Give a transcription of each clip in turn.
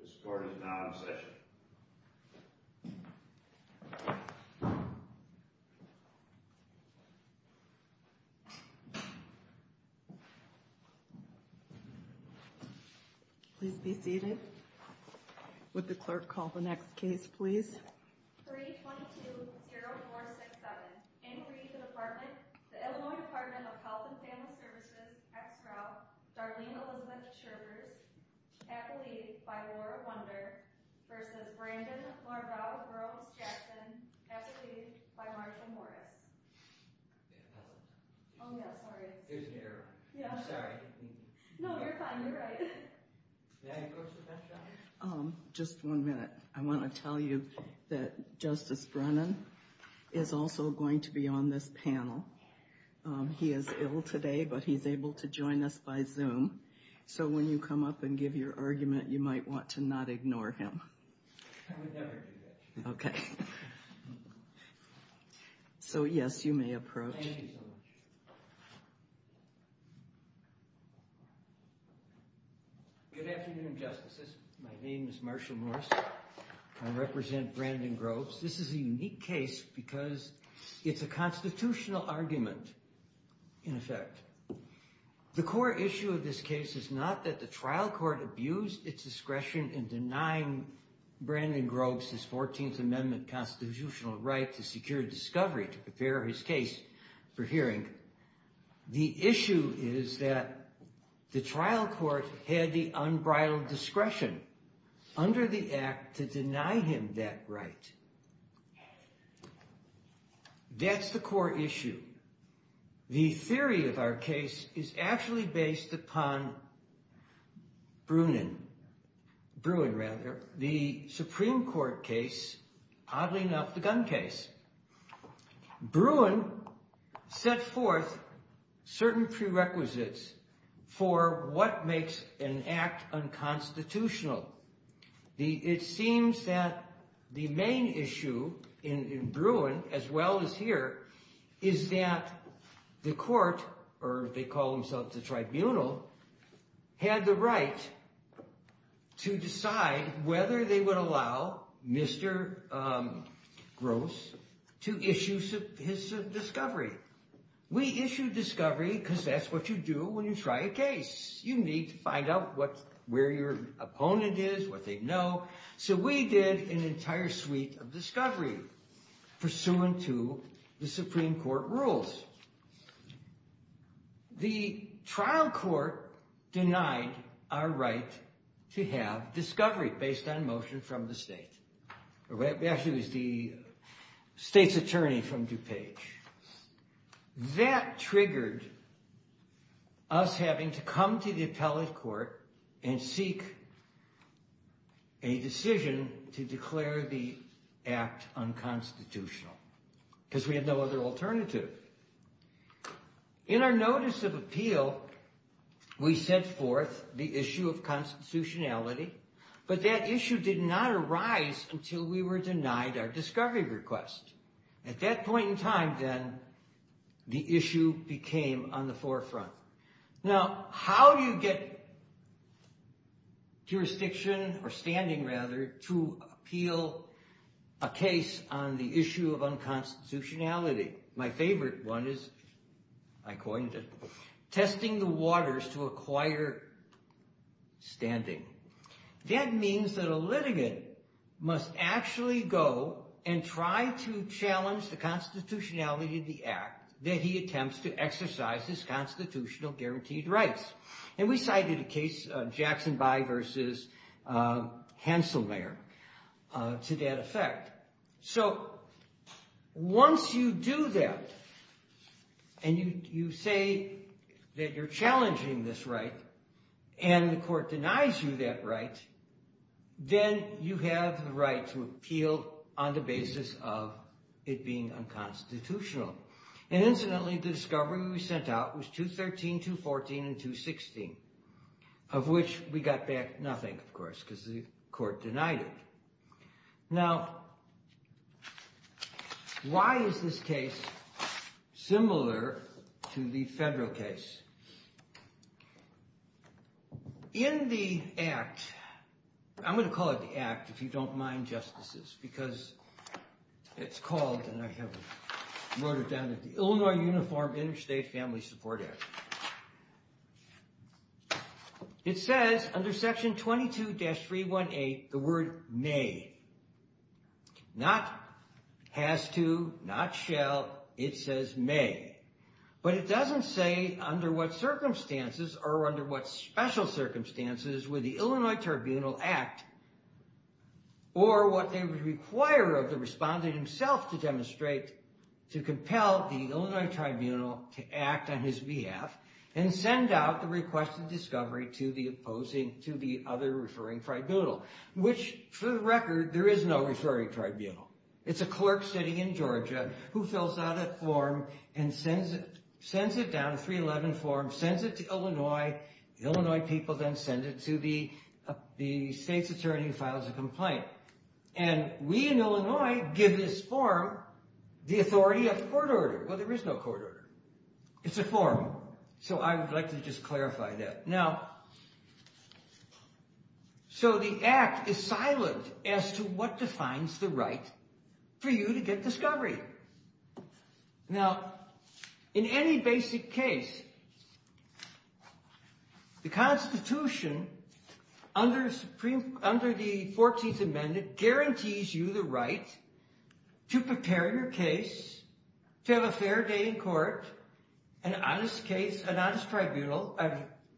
This court is now in session. Please be seated. Would the clerk call the next case please? Brandon Larvelle-Groves Jackson, executed by Marsha Morris. Oh yeah, sorry. There's an error. I'm sorry. No, you're fine. You're right. Yeah, you go, Sebastian. Just one minute. I want to tell you that Justice Brennan is also going to be on this panel. He is ill today, but he's able to join us by Zoom. So when you come up and give your argument, you might want to not ignore him. I would never do that. Okay. So yes, you may approach. Thank you so much. Good afternoon, Justices. My name is Marsha Morris. I represent Brandon Groves. This is a unique case because it's a constitutional argument, in effect. The core issue of this case is not that the trial court abused its discretion in denying Brandon Groves his 14th Amendment constitutional right to secure discovery to prepare his case for hearing. The issue is that the trial court had the unbridled discretion under the act to deny him that right. That's the core issue. The theory of our case is actually based upon Bruin, the Supreme Court case, oddly enough, the gun case. Bruin set forth certain prerequisites for what makes an act unconstitutional. It seems that the main issue in Bruin, as well as here, is that the court, or they call themselves the tribunal, had the right to decide whether they would allow Mr. Groves to issue his discovery. We issue discovery because that's what you do when you try a case. You need to find out where your opponent is, what they know. So we did an entire suite of discovery pursuant to the Supreme Court rules. The trial court denied our right to have discovery based on motion from the state. Actually, it was the state's attorney from DuPage. That triggered us having to come to the appellate court and seek a decision to declare the act unconstitutional because we had no other alternative. In our notice of appeal, we set forth the issue of constitutionality, but that issue did not arise until we were denied our discovery request. At that point in time, then, the issue became on the forefront. Now, how do you get jurisdiction, or standing rather, to appeal a case on the issue of unconstitutionality? My favorite one is, I coined it, testing the waters to acquire standing. That means that a litigant must actually go and try to challenge the constitutionality of the act that he attempts to exercise his constitutional guaranteed rights. We cited a case, Jackson By versus Hanselmayer, to that effect. Once you do that, and you say that you're challenging this right, and the court denies you that right, then you have the right to appeal on the basis of it being unconstitutional. Incidentally, the discovery we sent out was 213, 214, and 216, of which we got back nothing, of course, because the court denied it. Now, why is this case similar to the federal case? In the act, I'm going to call it the act, if you don't mind, Justices, because it's called, and I have wrote it down, the Illinois Uniform Interstate Family Support Act. It says, under section 22-318, the word may. Not has to, not shall, it says may. But it doesn't say under what circumstances, or under what special circumstances, would the Illinois Tribunal act, or what they would require of the respondent himself to demonstrate, to compel the Illinois Tribunal to act on his behalf, and send out the requested discovery to the opposing, to the other referring tribunal. Which, for the record, there is no referring tribunal. It's a clerk sitting in Georgia who fills out a form and sends it down, a 311 form, sends it to Illinois, the Illinois people then send it to the state's attorney who files a complaint. And we in Illinois give this form the authority of court order. Well, there is no court order. It's a form. So I would like to just clarify that. Now, so the act is silent as to what defines the right for you to get discovery. Now, in any basic case, the Constitution, under the 14th Amendment, guarantees you the right to prepare your case, to have a fair day in court, an honest case, an honest tribunal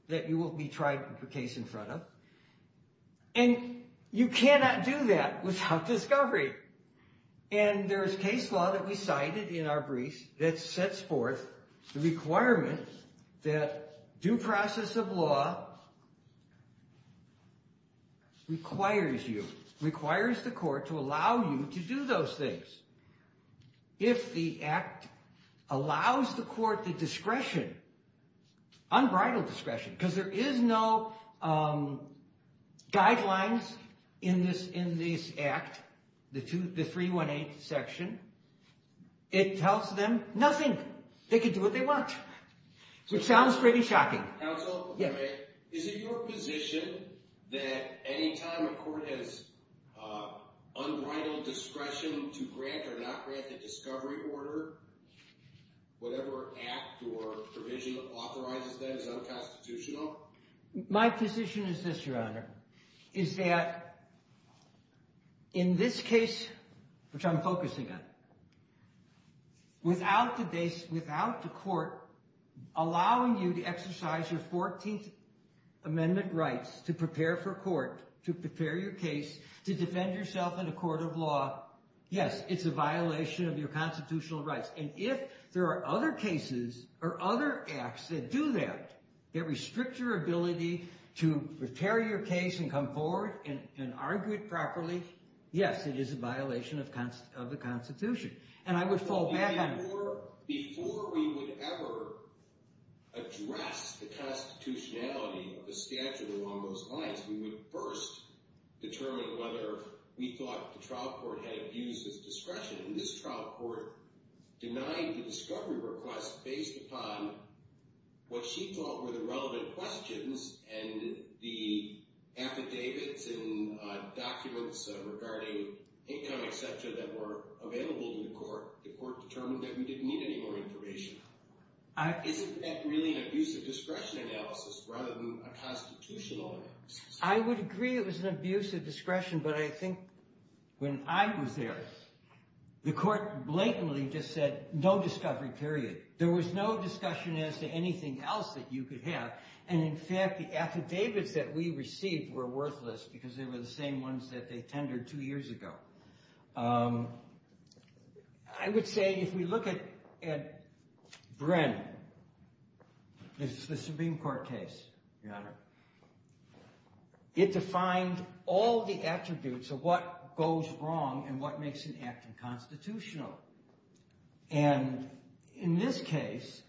that you will be tried for the case in front of. And you cannot do that without discovery. And there is case law that we cited in our briefs that sets forth the requirement that due process of law requires you, requires the court to allow you to do those things. If the act allows the court the discretion, unbridled discretion, because there is no guidelines in this act, the 318 section, it tells them nothing. They can do what they want, which sounds pretty shocking. Counsel, is it your position that any time a court has unbridled discretion to grant or not grant the discovery order, whatever act or provision authorizes that is unconstitutional? My position is this, Your Honor, is that in this case, which I'm focusing on, without the court allowing you to exercise your 14th Amendment rights to prepare for court, to prepare your case, to defend yourself in a court of law, yes, it's a violation of your constitutional rights. And if there are other cases or other acts that do that, that restrict your ability to prepare your case and come forward and argue it properly, yes, it is a violation of the Constitution. Before we would ever address the constitutionality of the statute along those lines, we would first determine whether we thought the trial court had abused its discretion. And this trial court denied the discovery request based upon what she thought were the relevant questions and the affidavits and documents regarding income, et cetera, that were available to the court. The court determined that we didn't need any more information. Is it really an abuse of discretion analysis rather than a constitutional analysis? I would agree it was an abuse of discretion, but I think when I was there, the court blatantly just said, no discovery, period. There was no discussion as to anything else that you could have. And in fact, the affidavits that we received were worthless because they were the same ones that they tendered two years ago. I would say if we look at Bren, the Supreme Court case, Your Honor, it defined all the attributes of what goes wrong and what makes an act unconstitutional. And in this case,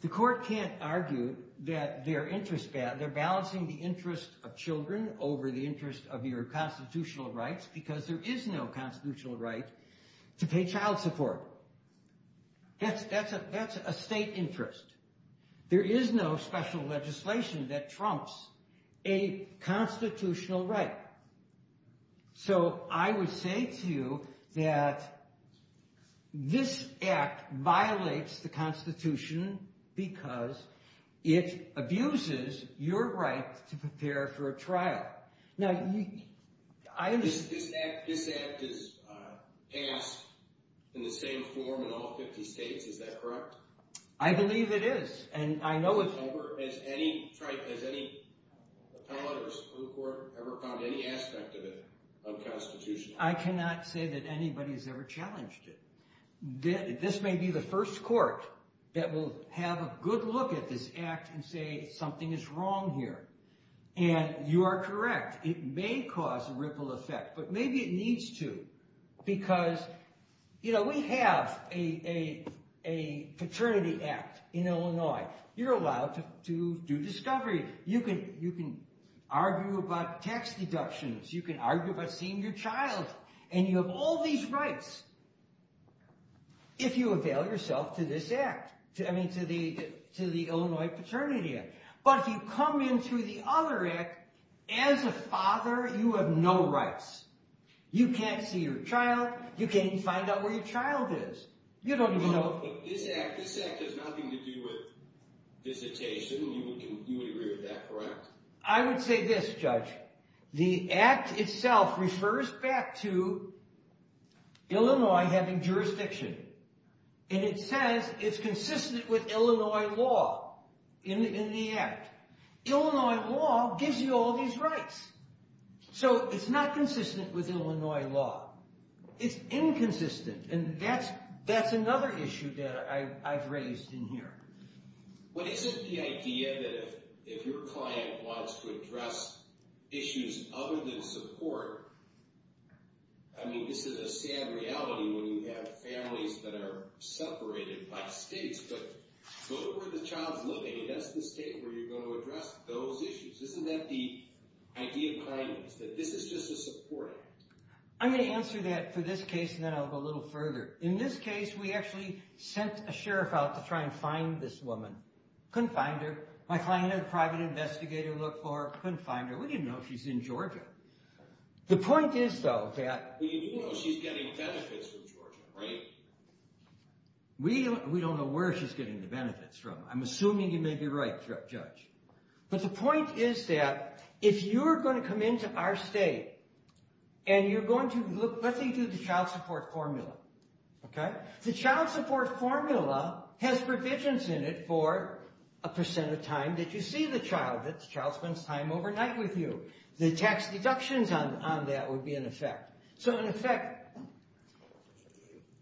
the court can't argue that they're balancing the interest of children over the interest of your constitutional rights because there is no constitutional right to pay child support. That's a state interest. There is no special legislation that trumps a constitutional right. So I would say to you that this act violates the Constitution because it abuses your right to prepare for a trial. This act is passed in the same form in all 50 states, is that correct? I believe it is. Has any appellate or Supreme Court ever found any aspect of it unconstitutional? I cannot say that anybody has ever challenged it. This may be the first court that will have a good look at this act and say something is wrong here. And you are correct. It may cause a ripple effect, but maybe it needs to. Because, you know, we have a paternity act in Illinois. You're allowed to do discovery. You can argue about tax deductions. You can argue about seeing your child. And you have all these rights if you avail yourself to this act, I mean to the Illinois Paternity Act. But if you come in through the other act, as a father, you have no rights. You can't see your child. You can't even find out where your child is. You don't even know. But this act has nothing to do with visitation. You would agree with that, correct? I would say this, Judge. The act itself refers back to Illinois having jurisdiction. And it says it's consistent with Illinois law in the act. Illinois law gives you all these rights. So it's not consistent with Illinois law. It's inconsistent. And that's another issue that I've raised in here. But isn't the idea that if your client wants to address issues other than support, I mean, this is a sad reality when you have families that are separated by states. But go where the child's living. That's the state where you're going to address those issues. Isn't that the idea behind this, that this is just a support act? I'm going to answer that for this case, and then I'll go a little further. In this case, we actually sent a sheriff out to try and find this woman. Couldn't find her. My client had a private investigator look for her. Couldn't find her. We didn't know she's in Georgia. The point is, though, that we do know she's getting benefits from Georgia, right? We don't know where she's getting the benefits from. I'm assuming you may be right, Judge. But the point is that if you're going to come into our state and you're going to look, let's say you do the child support formula. Okay? The child support formula has provisions in it for a percent of time that you see the child, that the child spends time overnight with you. The tax deductions on that would be in effect. So, in effect,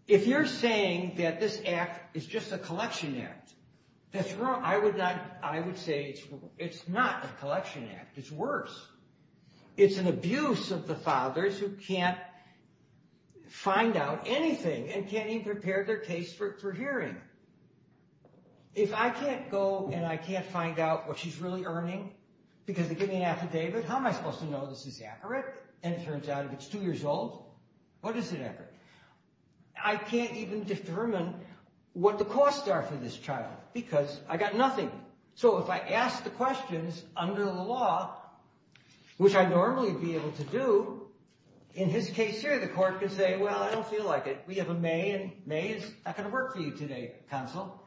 if you're saying that this act is just a collection act, that's wrong. I would say it's not a collection act. It's worse. It's an abuse of the fathers who can't find out anything and can't even prepare their case for hearing. If I can't go and I can't find out what she's really earning because they give me an affidavit, how am I supposed to know this is accurate? And it turns out if it's two years old, what is it accurate? I can't even determine what the costs are for this child because I got nothing. So if I ask the questions under the law, which I'd normally be able to do, in his case here, the court could say, well, I don't feel like it. We have a May, and May is not going to work for you today, counsel.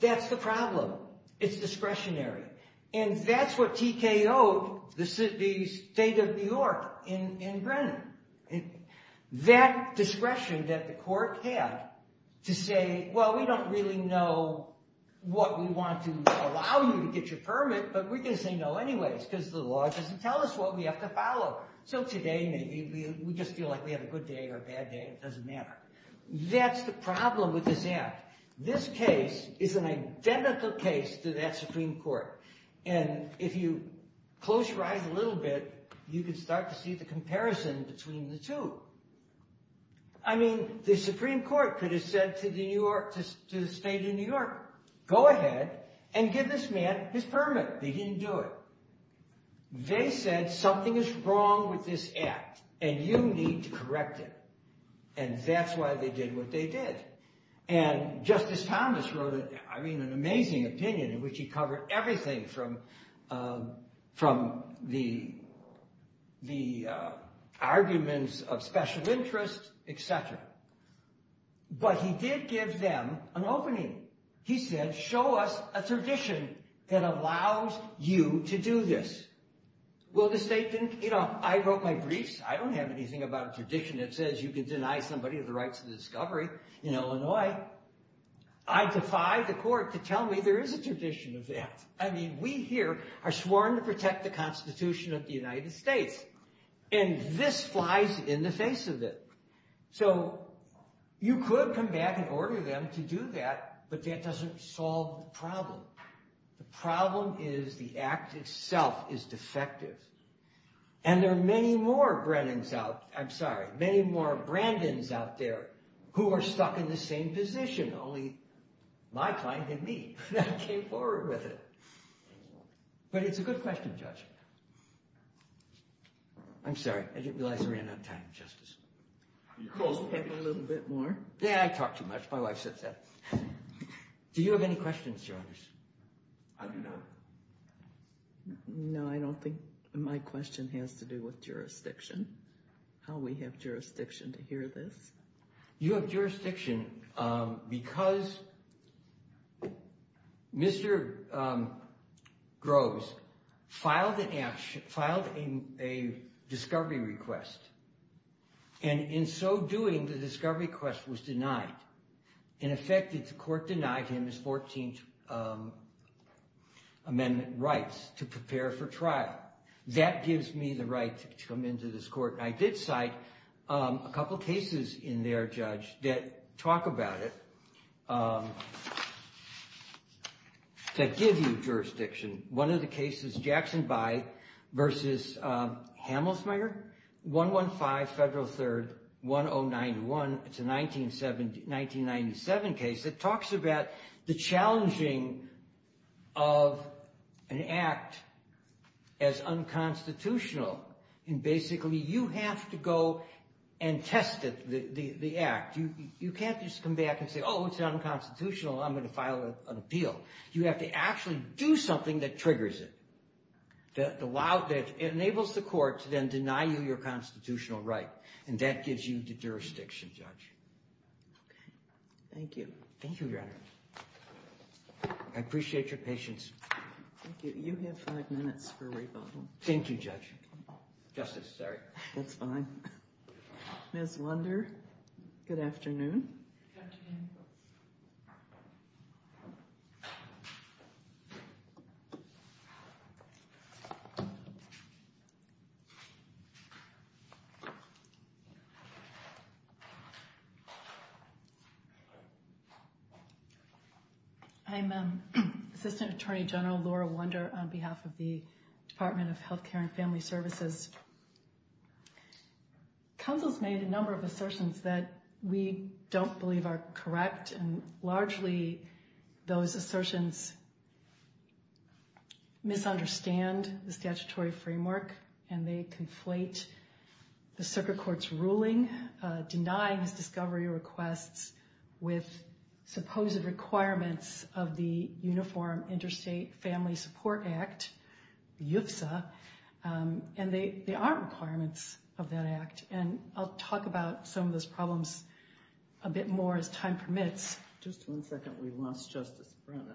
That's the problem. It's discretionary. And that's what TKO-ed the state of New York in Brennan. That discretion that the court had to say, well, we don't really know what we want to allow you to get your permit, but we're going to say no anyways because the law doesn't tell us what we have to follow. So today maybe we just feel like we had a good day or a bad day. It doesn't matter. That's the problem with this act. This case is an identical case to that Supreme Court. And if you close your eyes a little bit, you can start to see the comparison between the two. I mean, the Supreme Court could have said to the state of New York, go ahead and give this man his permit. They didn't do it. They said something is wrong with this act, and you need to correct it. And that's why they did what they did. And Justice Thomas wrote an amazing opinion in which he covered everything from the arguments of special interest, et cetera. But he did give them an opening. He said, show us a tradition that allows you to do this. Well, the state didn't. You know, I wrote my briefs. I don't have anything about a tradition that says you can deny somebody the rights of discovery in Illinois. I defy the court to tell me there is a tradition of that. I mean, we here are sworn to protect the Constitution of the United States. And this flies in the face of it. So you could come back and order them to do that, but that doesn't solve the problem. The problem is the act itself is defective. And there are many more Brennans out, I'm sorry, many more Brandins out there who are stuck in the same position. Only my client and me came forward with it. But it's a good question, Judge. I'm sorry. I didn't realize I ran out of time, Justice. You could have taken a little bit more. Yeah, I talk too much. My wife says that. Do you have any questions, Judge? I do not. No, I don't think my question has to do with jurisdiction, how we have jurisdiction to hear this. You have jurisdiction because Mr. Groves filed a discovery request. And in so doing, the discovery request was denied. In effect, the court denied him his 14th Amendment rights to prepare for trial. That gives me the right to come into this court. I did cite a couple cases in there, Judge, that talk about it, that give you jurisdiction. One of the cases, Jackson By versus Hamelsmeyer, 115 Federal 3rd, 1091. It's a 1997 case that talks about the challenging of an act as unconstitutional. And basically, you have to go and test the act. You can't just come back and say, oh, it's unconstitutional. I'm going to file an appeal. You have to actually do something that triggers it, that enables the court to then deny you your constitutional right. And that gives you the jurisdiction, Judge. OK. Thank you. Thank you, Your Honor. I appreciate your patience. Thank you. You have five minutes for rebuttal. Thank you, Judge. Justice, sorry. That's fine. Ms. Lunder, good afternoon. Good afternoon. I'm Assistant Attorney General Laura Lunder on behalf of the Department of Health Care and Family Services. Council has made a number of assertions that we don't believe are correct. And largely, those assertions misunderstand the statutory framework, and they conflate the circuit court's ruling, denying his discovery requests with supposed requirements of the Uniform Interstate Family Support Act, UFSA. And they aren't requirements of that act. And I'll talk about some of those problems a bit more as time permits. Just one second. We lost Justice Brennan.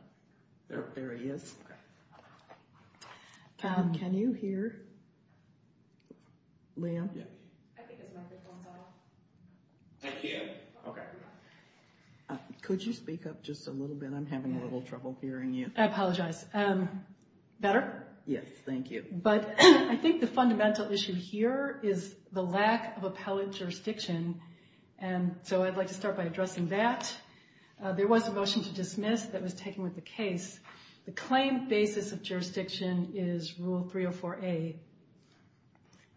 There he is. Can you hear? Liam? I think his microphone's off. I can. OK. Could you speak up just a little bit? I'm having a little trouble hearing you. I apologize. Better? Yes. Thank you. But I think the fundamental issue here is the lack of appellate jurisdiction. And so I'd like to start by addressing that. There was a motion to dismiss that was taken with the case. The claim basis of jurisdiction is Rule 304A.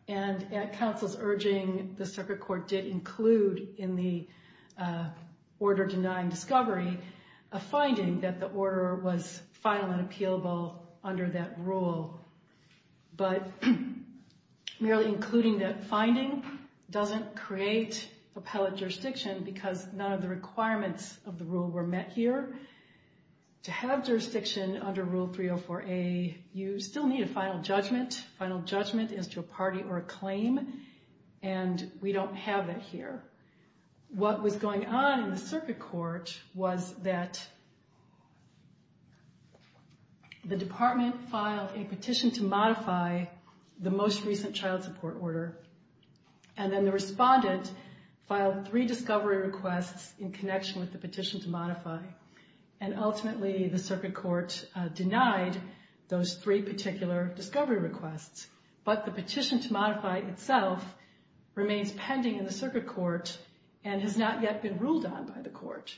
And at counsel's urging, the circuit court did include in the order denying discovery a finding that the order was final and appealable under that rule. But merely including that finding doesn't create appellate jurisdiction because none of the requirements of the rule were met here. To have jurisdiction under Rule 304A, you still need a final judgment. Final judgment is to a party or a claim. And we don't have that here. What was going on in the circuit court was that the department filed a petition to modify the most recent child support order. And then the respondent filed three discovery requests in connection with the petition to modify. And ultimately, the circuit court denied those three particular discovery requests. But the petition to modify itself remains pending in the circuit court and has not yet been ruled on by the court.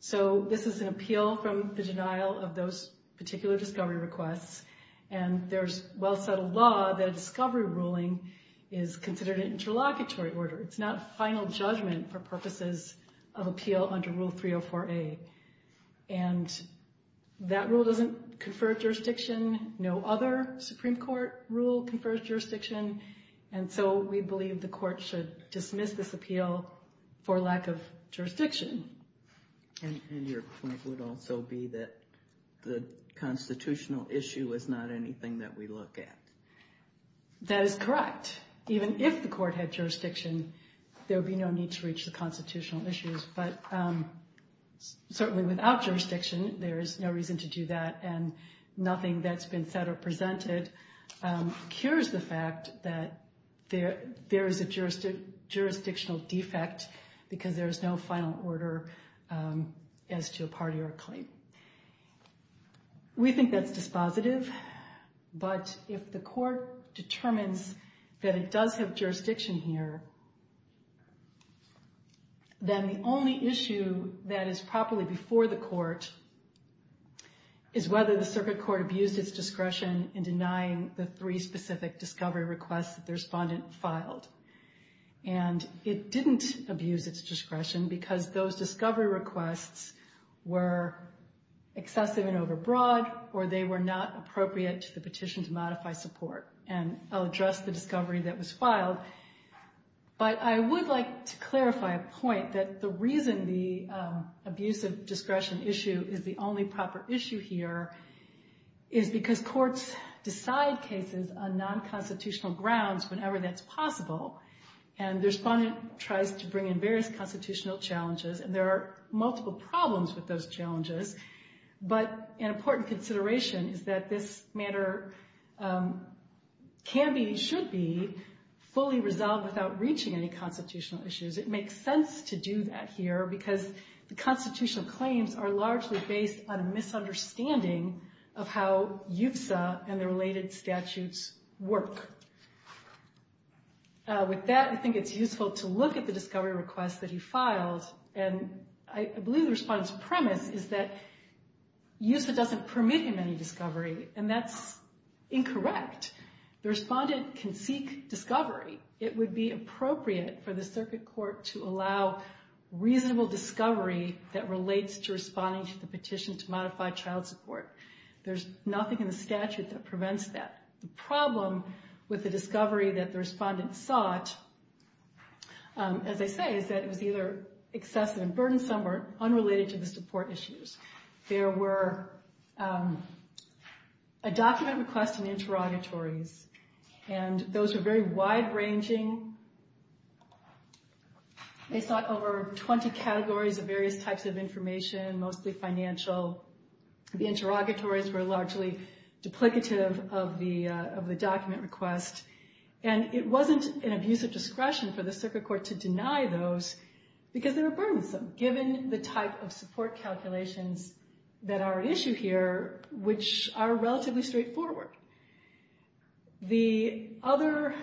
So this is an appeal from the denial of those particular discovery requests. And there's well-settled law that a discovery ruling is considered an interlocutory order. It's not a final judgment for purposes of appeal under Rule 304A. And that rule doesn't confer jurisdiction. No other Supreme Court rule confers jurisdiction. And so we believe the court should dismiss this appeal for lack of jurisdiction. And your point would also be that the constitutional issue is not anything that we look at. That is correct. Even if the court had jurisdiction, there would be no need to reach the constitutional issues. But certainly without jurisdiction, there is no reason to do that. And nothing that's been said or presented cures the fact that there is a jurisdictional defect because there is no final order as to a party or a claim. We think that's dispositive. But if the court determines that it does have jurisdiction here, then the only issue that is properly before the court is whether the circuit court abused its discretion in denying the three specific discovery requests that the respondent filed. And it didn't abuse its discretion because those discovery requests were excessive and overbroad or they were not appropriate to the petition to modify support. And I'll address the discovery that was filed. But I would like to clarify a point that the reason the abuse of discretion issue is the only proper issue here is because courts decide cases on non-constitutional grounds whenever that's possible. And the respondent tries to bring in various constitutional challenges. And there are multiple problems with those challenges. But an important consideration is that this matter can be, should be, fully resolved without reaching any constitutional issues. It makes sense to do that here because the constitutional claims are largely based on a misunderstanding of how UPSA and the related statutes work. With that, I think it's useful to look at the discovery request that he filed. And I believe the respondent's premise is that UPSA doesn't permit him any discovery. And that's incorrect. The respondent can seek discovery. It would be appropriate for the circuit court to allow reasonable discovery that relates to responding to the petition to modify child support. There's nothing in the statute that prevents that. The problem with the discovery that the respondent sought, as I say, is that it was either excessive and burdensome or unrelated to the support issues. There were a document request and interrogatories. And those were very wide-ranging. They sought over 20 categories of various types of information, mostly financial. The interrogatories were largely duplicative of the document request. And it wasn't an abusive discretion for the circuit court to deny those because they were burdensome, given the type of support calculations that are at issue here, which are relatively straightforward. The other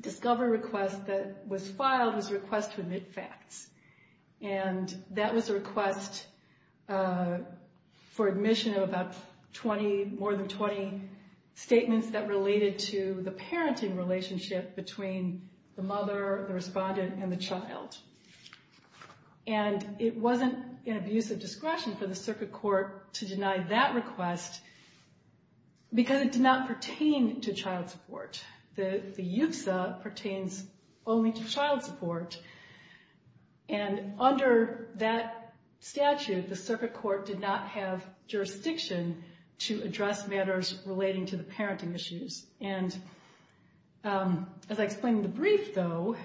discovery request that was filed was a request to admit facts. And that was a request for admission of about 20, more than 20 statements that related to the parenting relationship between the mother, the respondent, and the child. And it wasn't an abusive discretion for the circuit court to deny that request because it did not pertain to child support. The UPSA pertains only to child support. And under that statute, the circuit court did not have jurisdiction to address matters relating to the parenting issues. And as I explained in the brief, though,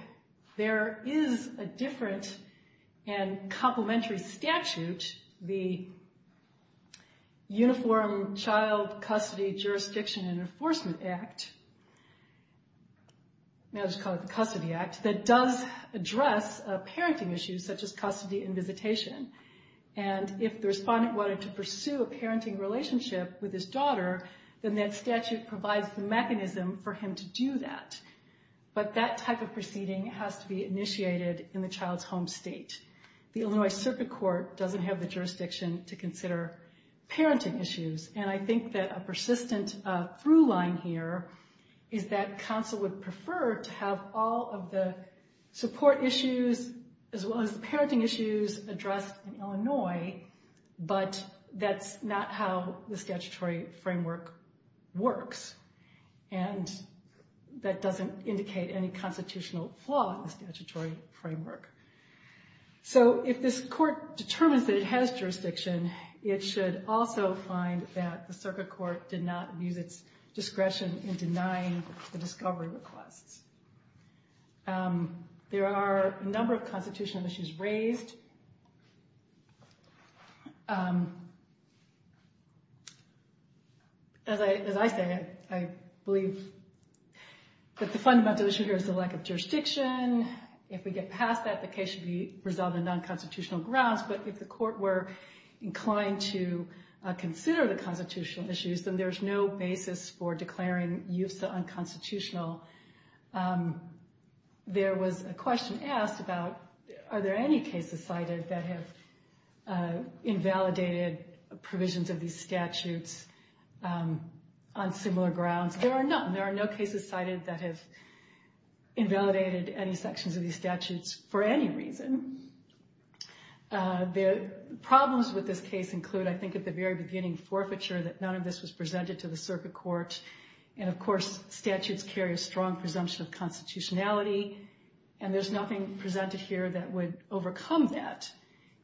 there is a different and complementary statute, the Uniform Child Custody Jurisdiction and Enforcement Act, I'll just call it the Custody Act, that does address parenting issues such as custody and visitation. And if the respondent wanted to pursue a parenting relationship with his daughter, then that statute provides the mechanism for him to do that. But that type of proceeding has to be initiated in the child's home state. The Illinois Circuit Court doesn't have the jurisdiction to consider parenting issues. And I think that a persistent through-line here is that counsel would prefer to have all of the support issues, as well as the parenting issues, addressed in Illinois, but that's not how the statutory framework works. And that doesn't indicate any constitutional flaw in the statutory framework. So if this court determines that it has jurisdiction, it should also find that the circuit court did not use its discretion in denying the discovery requests. There are a number of constitutional issues raised. As I say, I believe that the fundamental issue here is the lack of jurisdiction. If we get past that, the case should be resolved on non-constitutional grounds. But if the court were inclined to consider the constitutional issues, then there's no basis for declaring UFSA unconstitutional. There was a question asked about, are there any cases cited that have invalidated provisions of these statutes on similar grounds? There are none. There are no cases cited that have invalidated any sections of these statutes for any reason. The problems with this case include, I think at the very beginning, forfeiture, that none of this was presented to the circuit court. And, of course, statutes carry a strong presumption of constitutionality. And there's nothing presented here that would overcome that.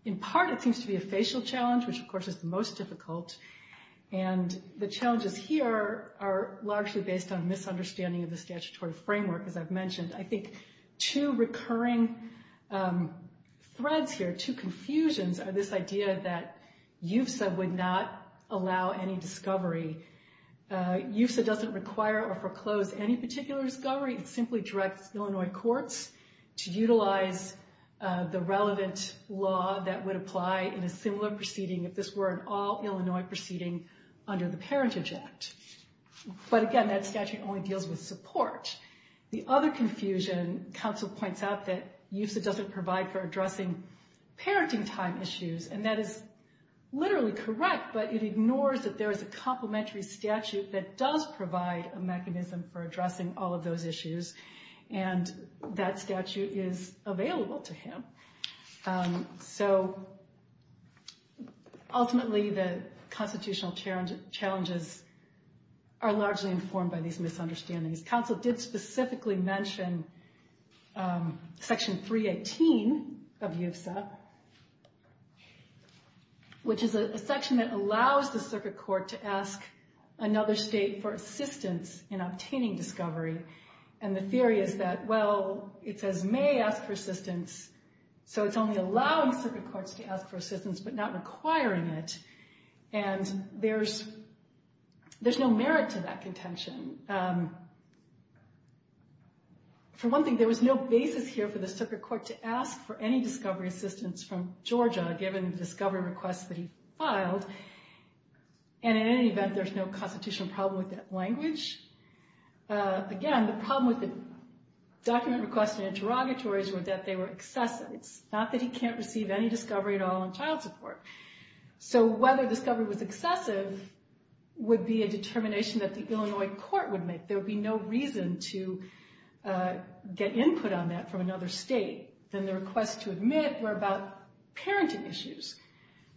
In part, it seems to be a facial challenge, which, of course, is the most difficult. And the challenges here are largely based on misunderstanding of the statutory framework, as I've mentioned. I think two recurring threads here, two confusions, are this idea that UFSA would not allow any discovery. UFSA doesn't require or foreclose any particular discovery. It simply directs Illinois courts to utilize the relevant law that would apply in a similar proceeding, if this were an all-Illinois proceeding under the Parentage Act. But, again, that statute only deals with support. The other confusion, counsel points out that UFSA doesn't provide for addressing parenting time issues. And that is literally correct, but it ignores that there is a complementary statute that does provide a mechanism for addressing all of those issues. And that statute is available to him. So, ultimately, the constitutional challenges are largely informed by these misunderstandings. Counsel did specifically mention Section 318 of UFSA, which is a section that allows the circuit court to ask another state for assistance in obtaining discovery. And the theory is that, well, it says may ask for assistance, so it's only allowing circuit courts to ask for assistance, but not requiring it. And there's no merit to that contention. For one thing, there was no basis here for the circuit court to ask for any discovery assistance from Georgia, given the discovery requests that he filed. And, in any event, there's no constitutional problem with that language. Again, the problem with the document requests and interrogatories were that they were excessive. It's not that he can't receive any discovery at all in child support. So, whether discovery was excessive would be a determination that the Illinois court would make. There would be no reason to get input on that from another state. And the requests to admit were about parenting issues.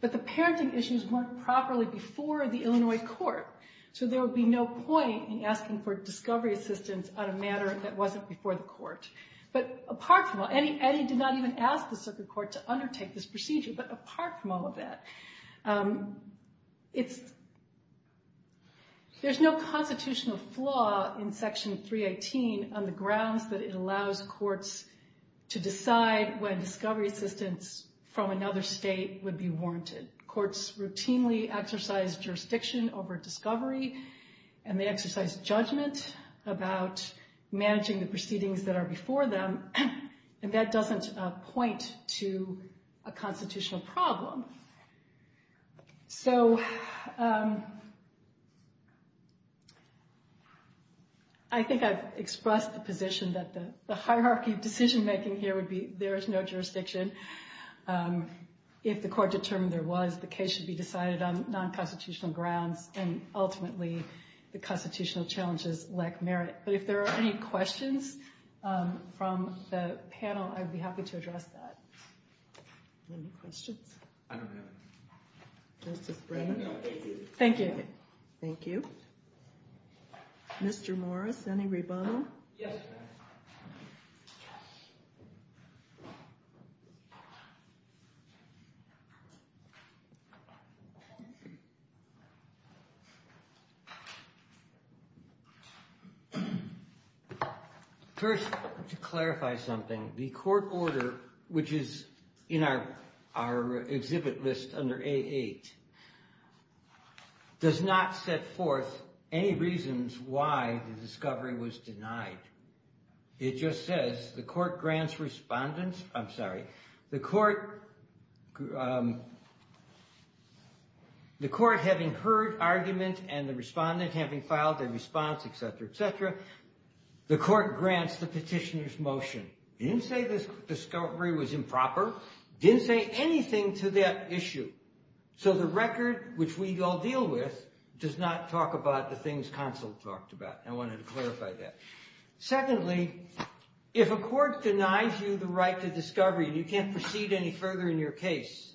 But the parenting issues weren't properly before the Illinois court, so there would be no point in asking for discovery assistance on a matter that wasn't before the court. Eddie did not even ask the circuit court to undertake this procedure, but apart from all of that, there's no constitutional flaw in Section 318 on the grounds that it allows courts to decide when discovery assistance from another state would be warranted. Courts routinely exercise jurisdiction over discovery, and they exercise judgment about managing the proceedings that are before them, and that doesn't point to a constitutional problem. So, I think I've expressed the position that the hierarchy of decision-making here would be there is no jurisdiction. If the court determined there was, the case should be decided on nonconstitutional grounds and ultimately the constitutional challenges lack merit. But if there are any questions from the panel, I'd be happy to address that. Any questions? I don't have any. Thank you. Thank you. Yes, ma'am. First, to clarify something, the court order, which is in our exhibit list under A8, does not set forth any reasons why the discovery was denied. It just says the court grants respondents, I'm sorry, the court having heard argument and the respondent having filed a response, et cetera, et cetera, the court grants the petitioner's motion. It didn't say the discovery was improper. It didn't say anything to that issue. So, the record, which we all deal with, does not talk about the things counsel talked about. I wanted to clarify that. Secondly, if a court denies you the right to discovery and you can't proceed any further in your case,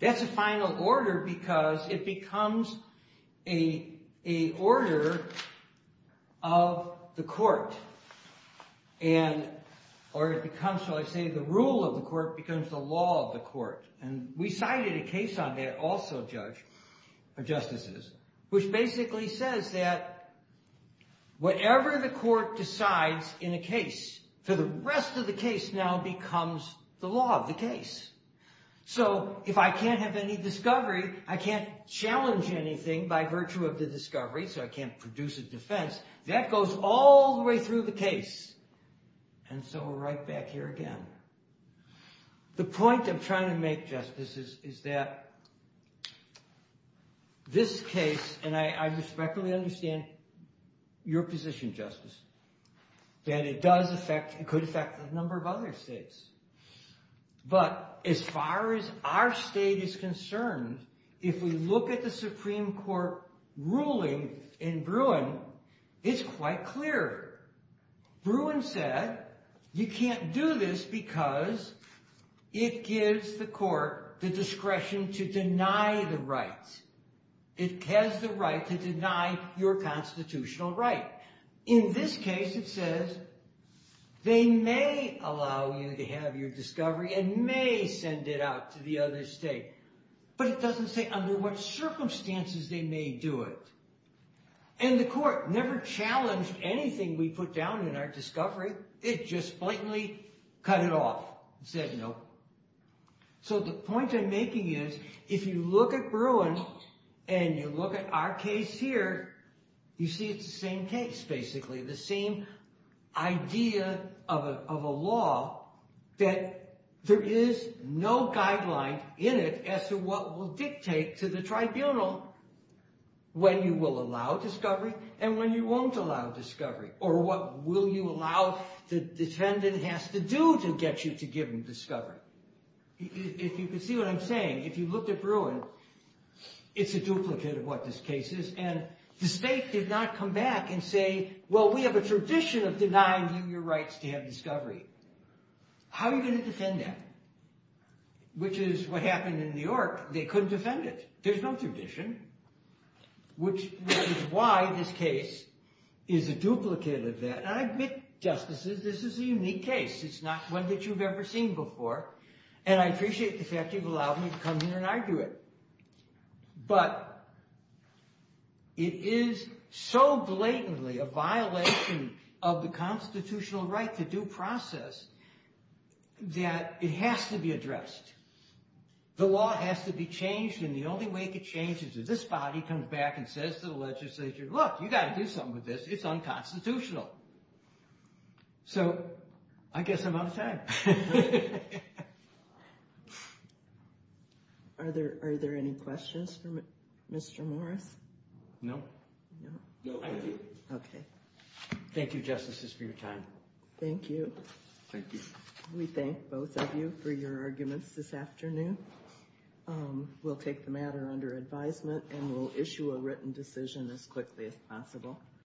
that's a final order because it becomes a order of the court. Or it becomes, shall I say, the rule of the court becomes the law of the court. And we cited a case on that also, judges, or justices, which basically says that whatever the court decides in a case, for the rest of the case now becomes the law of the case. So, if I can't have any discovery, I can't challenge anything by virtue of the discovery, so I can't produce a defense. That goes all the way through the case. And so we're right back here again. The point I'm trying to make, justices, is that this case, and I respectfully understand your position, Justice, that it could affect a number of other states. But as far as our state is concerned, if we look at the Supreme Court ruling in Bruin, it's quite clear. Bruin said you can't do this because it gives the court the discretion to deny the rights. It has the right to deny your constitutional right. In this case, it says they may allow you to have your discovery and may send it out to the other state. But it doesn't say under what circumstances they may do it. And the court never challenged anything we put down in our discovery. It just blatantly cut it off and said no. So the point I'm making is, if you look at Bruin and you look at our case here, you see it's the same case, basically. The same idea of a law that there is no guideline in it as to what will dictate to the tribunal when you will allow discovery and when you won't allow discovery. Or what will you allow the defendant has to do to get you to give him discovery. If you can see what I'm saying, if you looked at Bruin, it's a duplicate of what this case is. And the state did not come back and say, well, we have a tradition of denying you your rights to have discovery. How are you going to defend that? Which is what happened in New York. They couldn't defend it. There's no tradition, which is why this case is a duplicate of that. And I admit, Justices, this is a unique case. It's not one that you've ever seen before. And I appreciate the fact you've allowed me to come here and argue it. But it is so blatantly a violation of the constitutional right to due process that it has to be addressed. The law has to be changed. And the only way it can change is if this body comes back and says to the legislature, look, you've got to do something with this. It's unconstitutional. So I guess I'm out of time. Are there any questions for Mr. Morris? No. No, I do. Okay. Thank you, Justices, for your time. Thank you. Thank you. We thank both of you for your arguments this afternoon. We'll take the matter under advisement, and we'll issue a written decision as quickly as possible.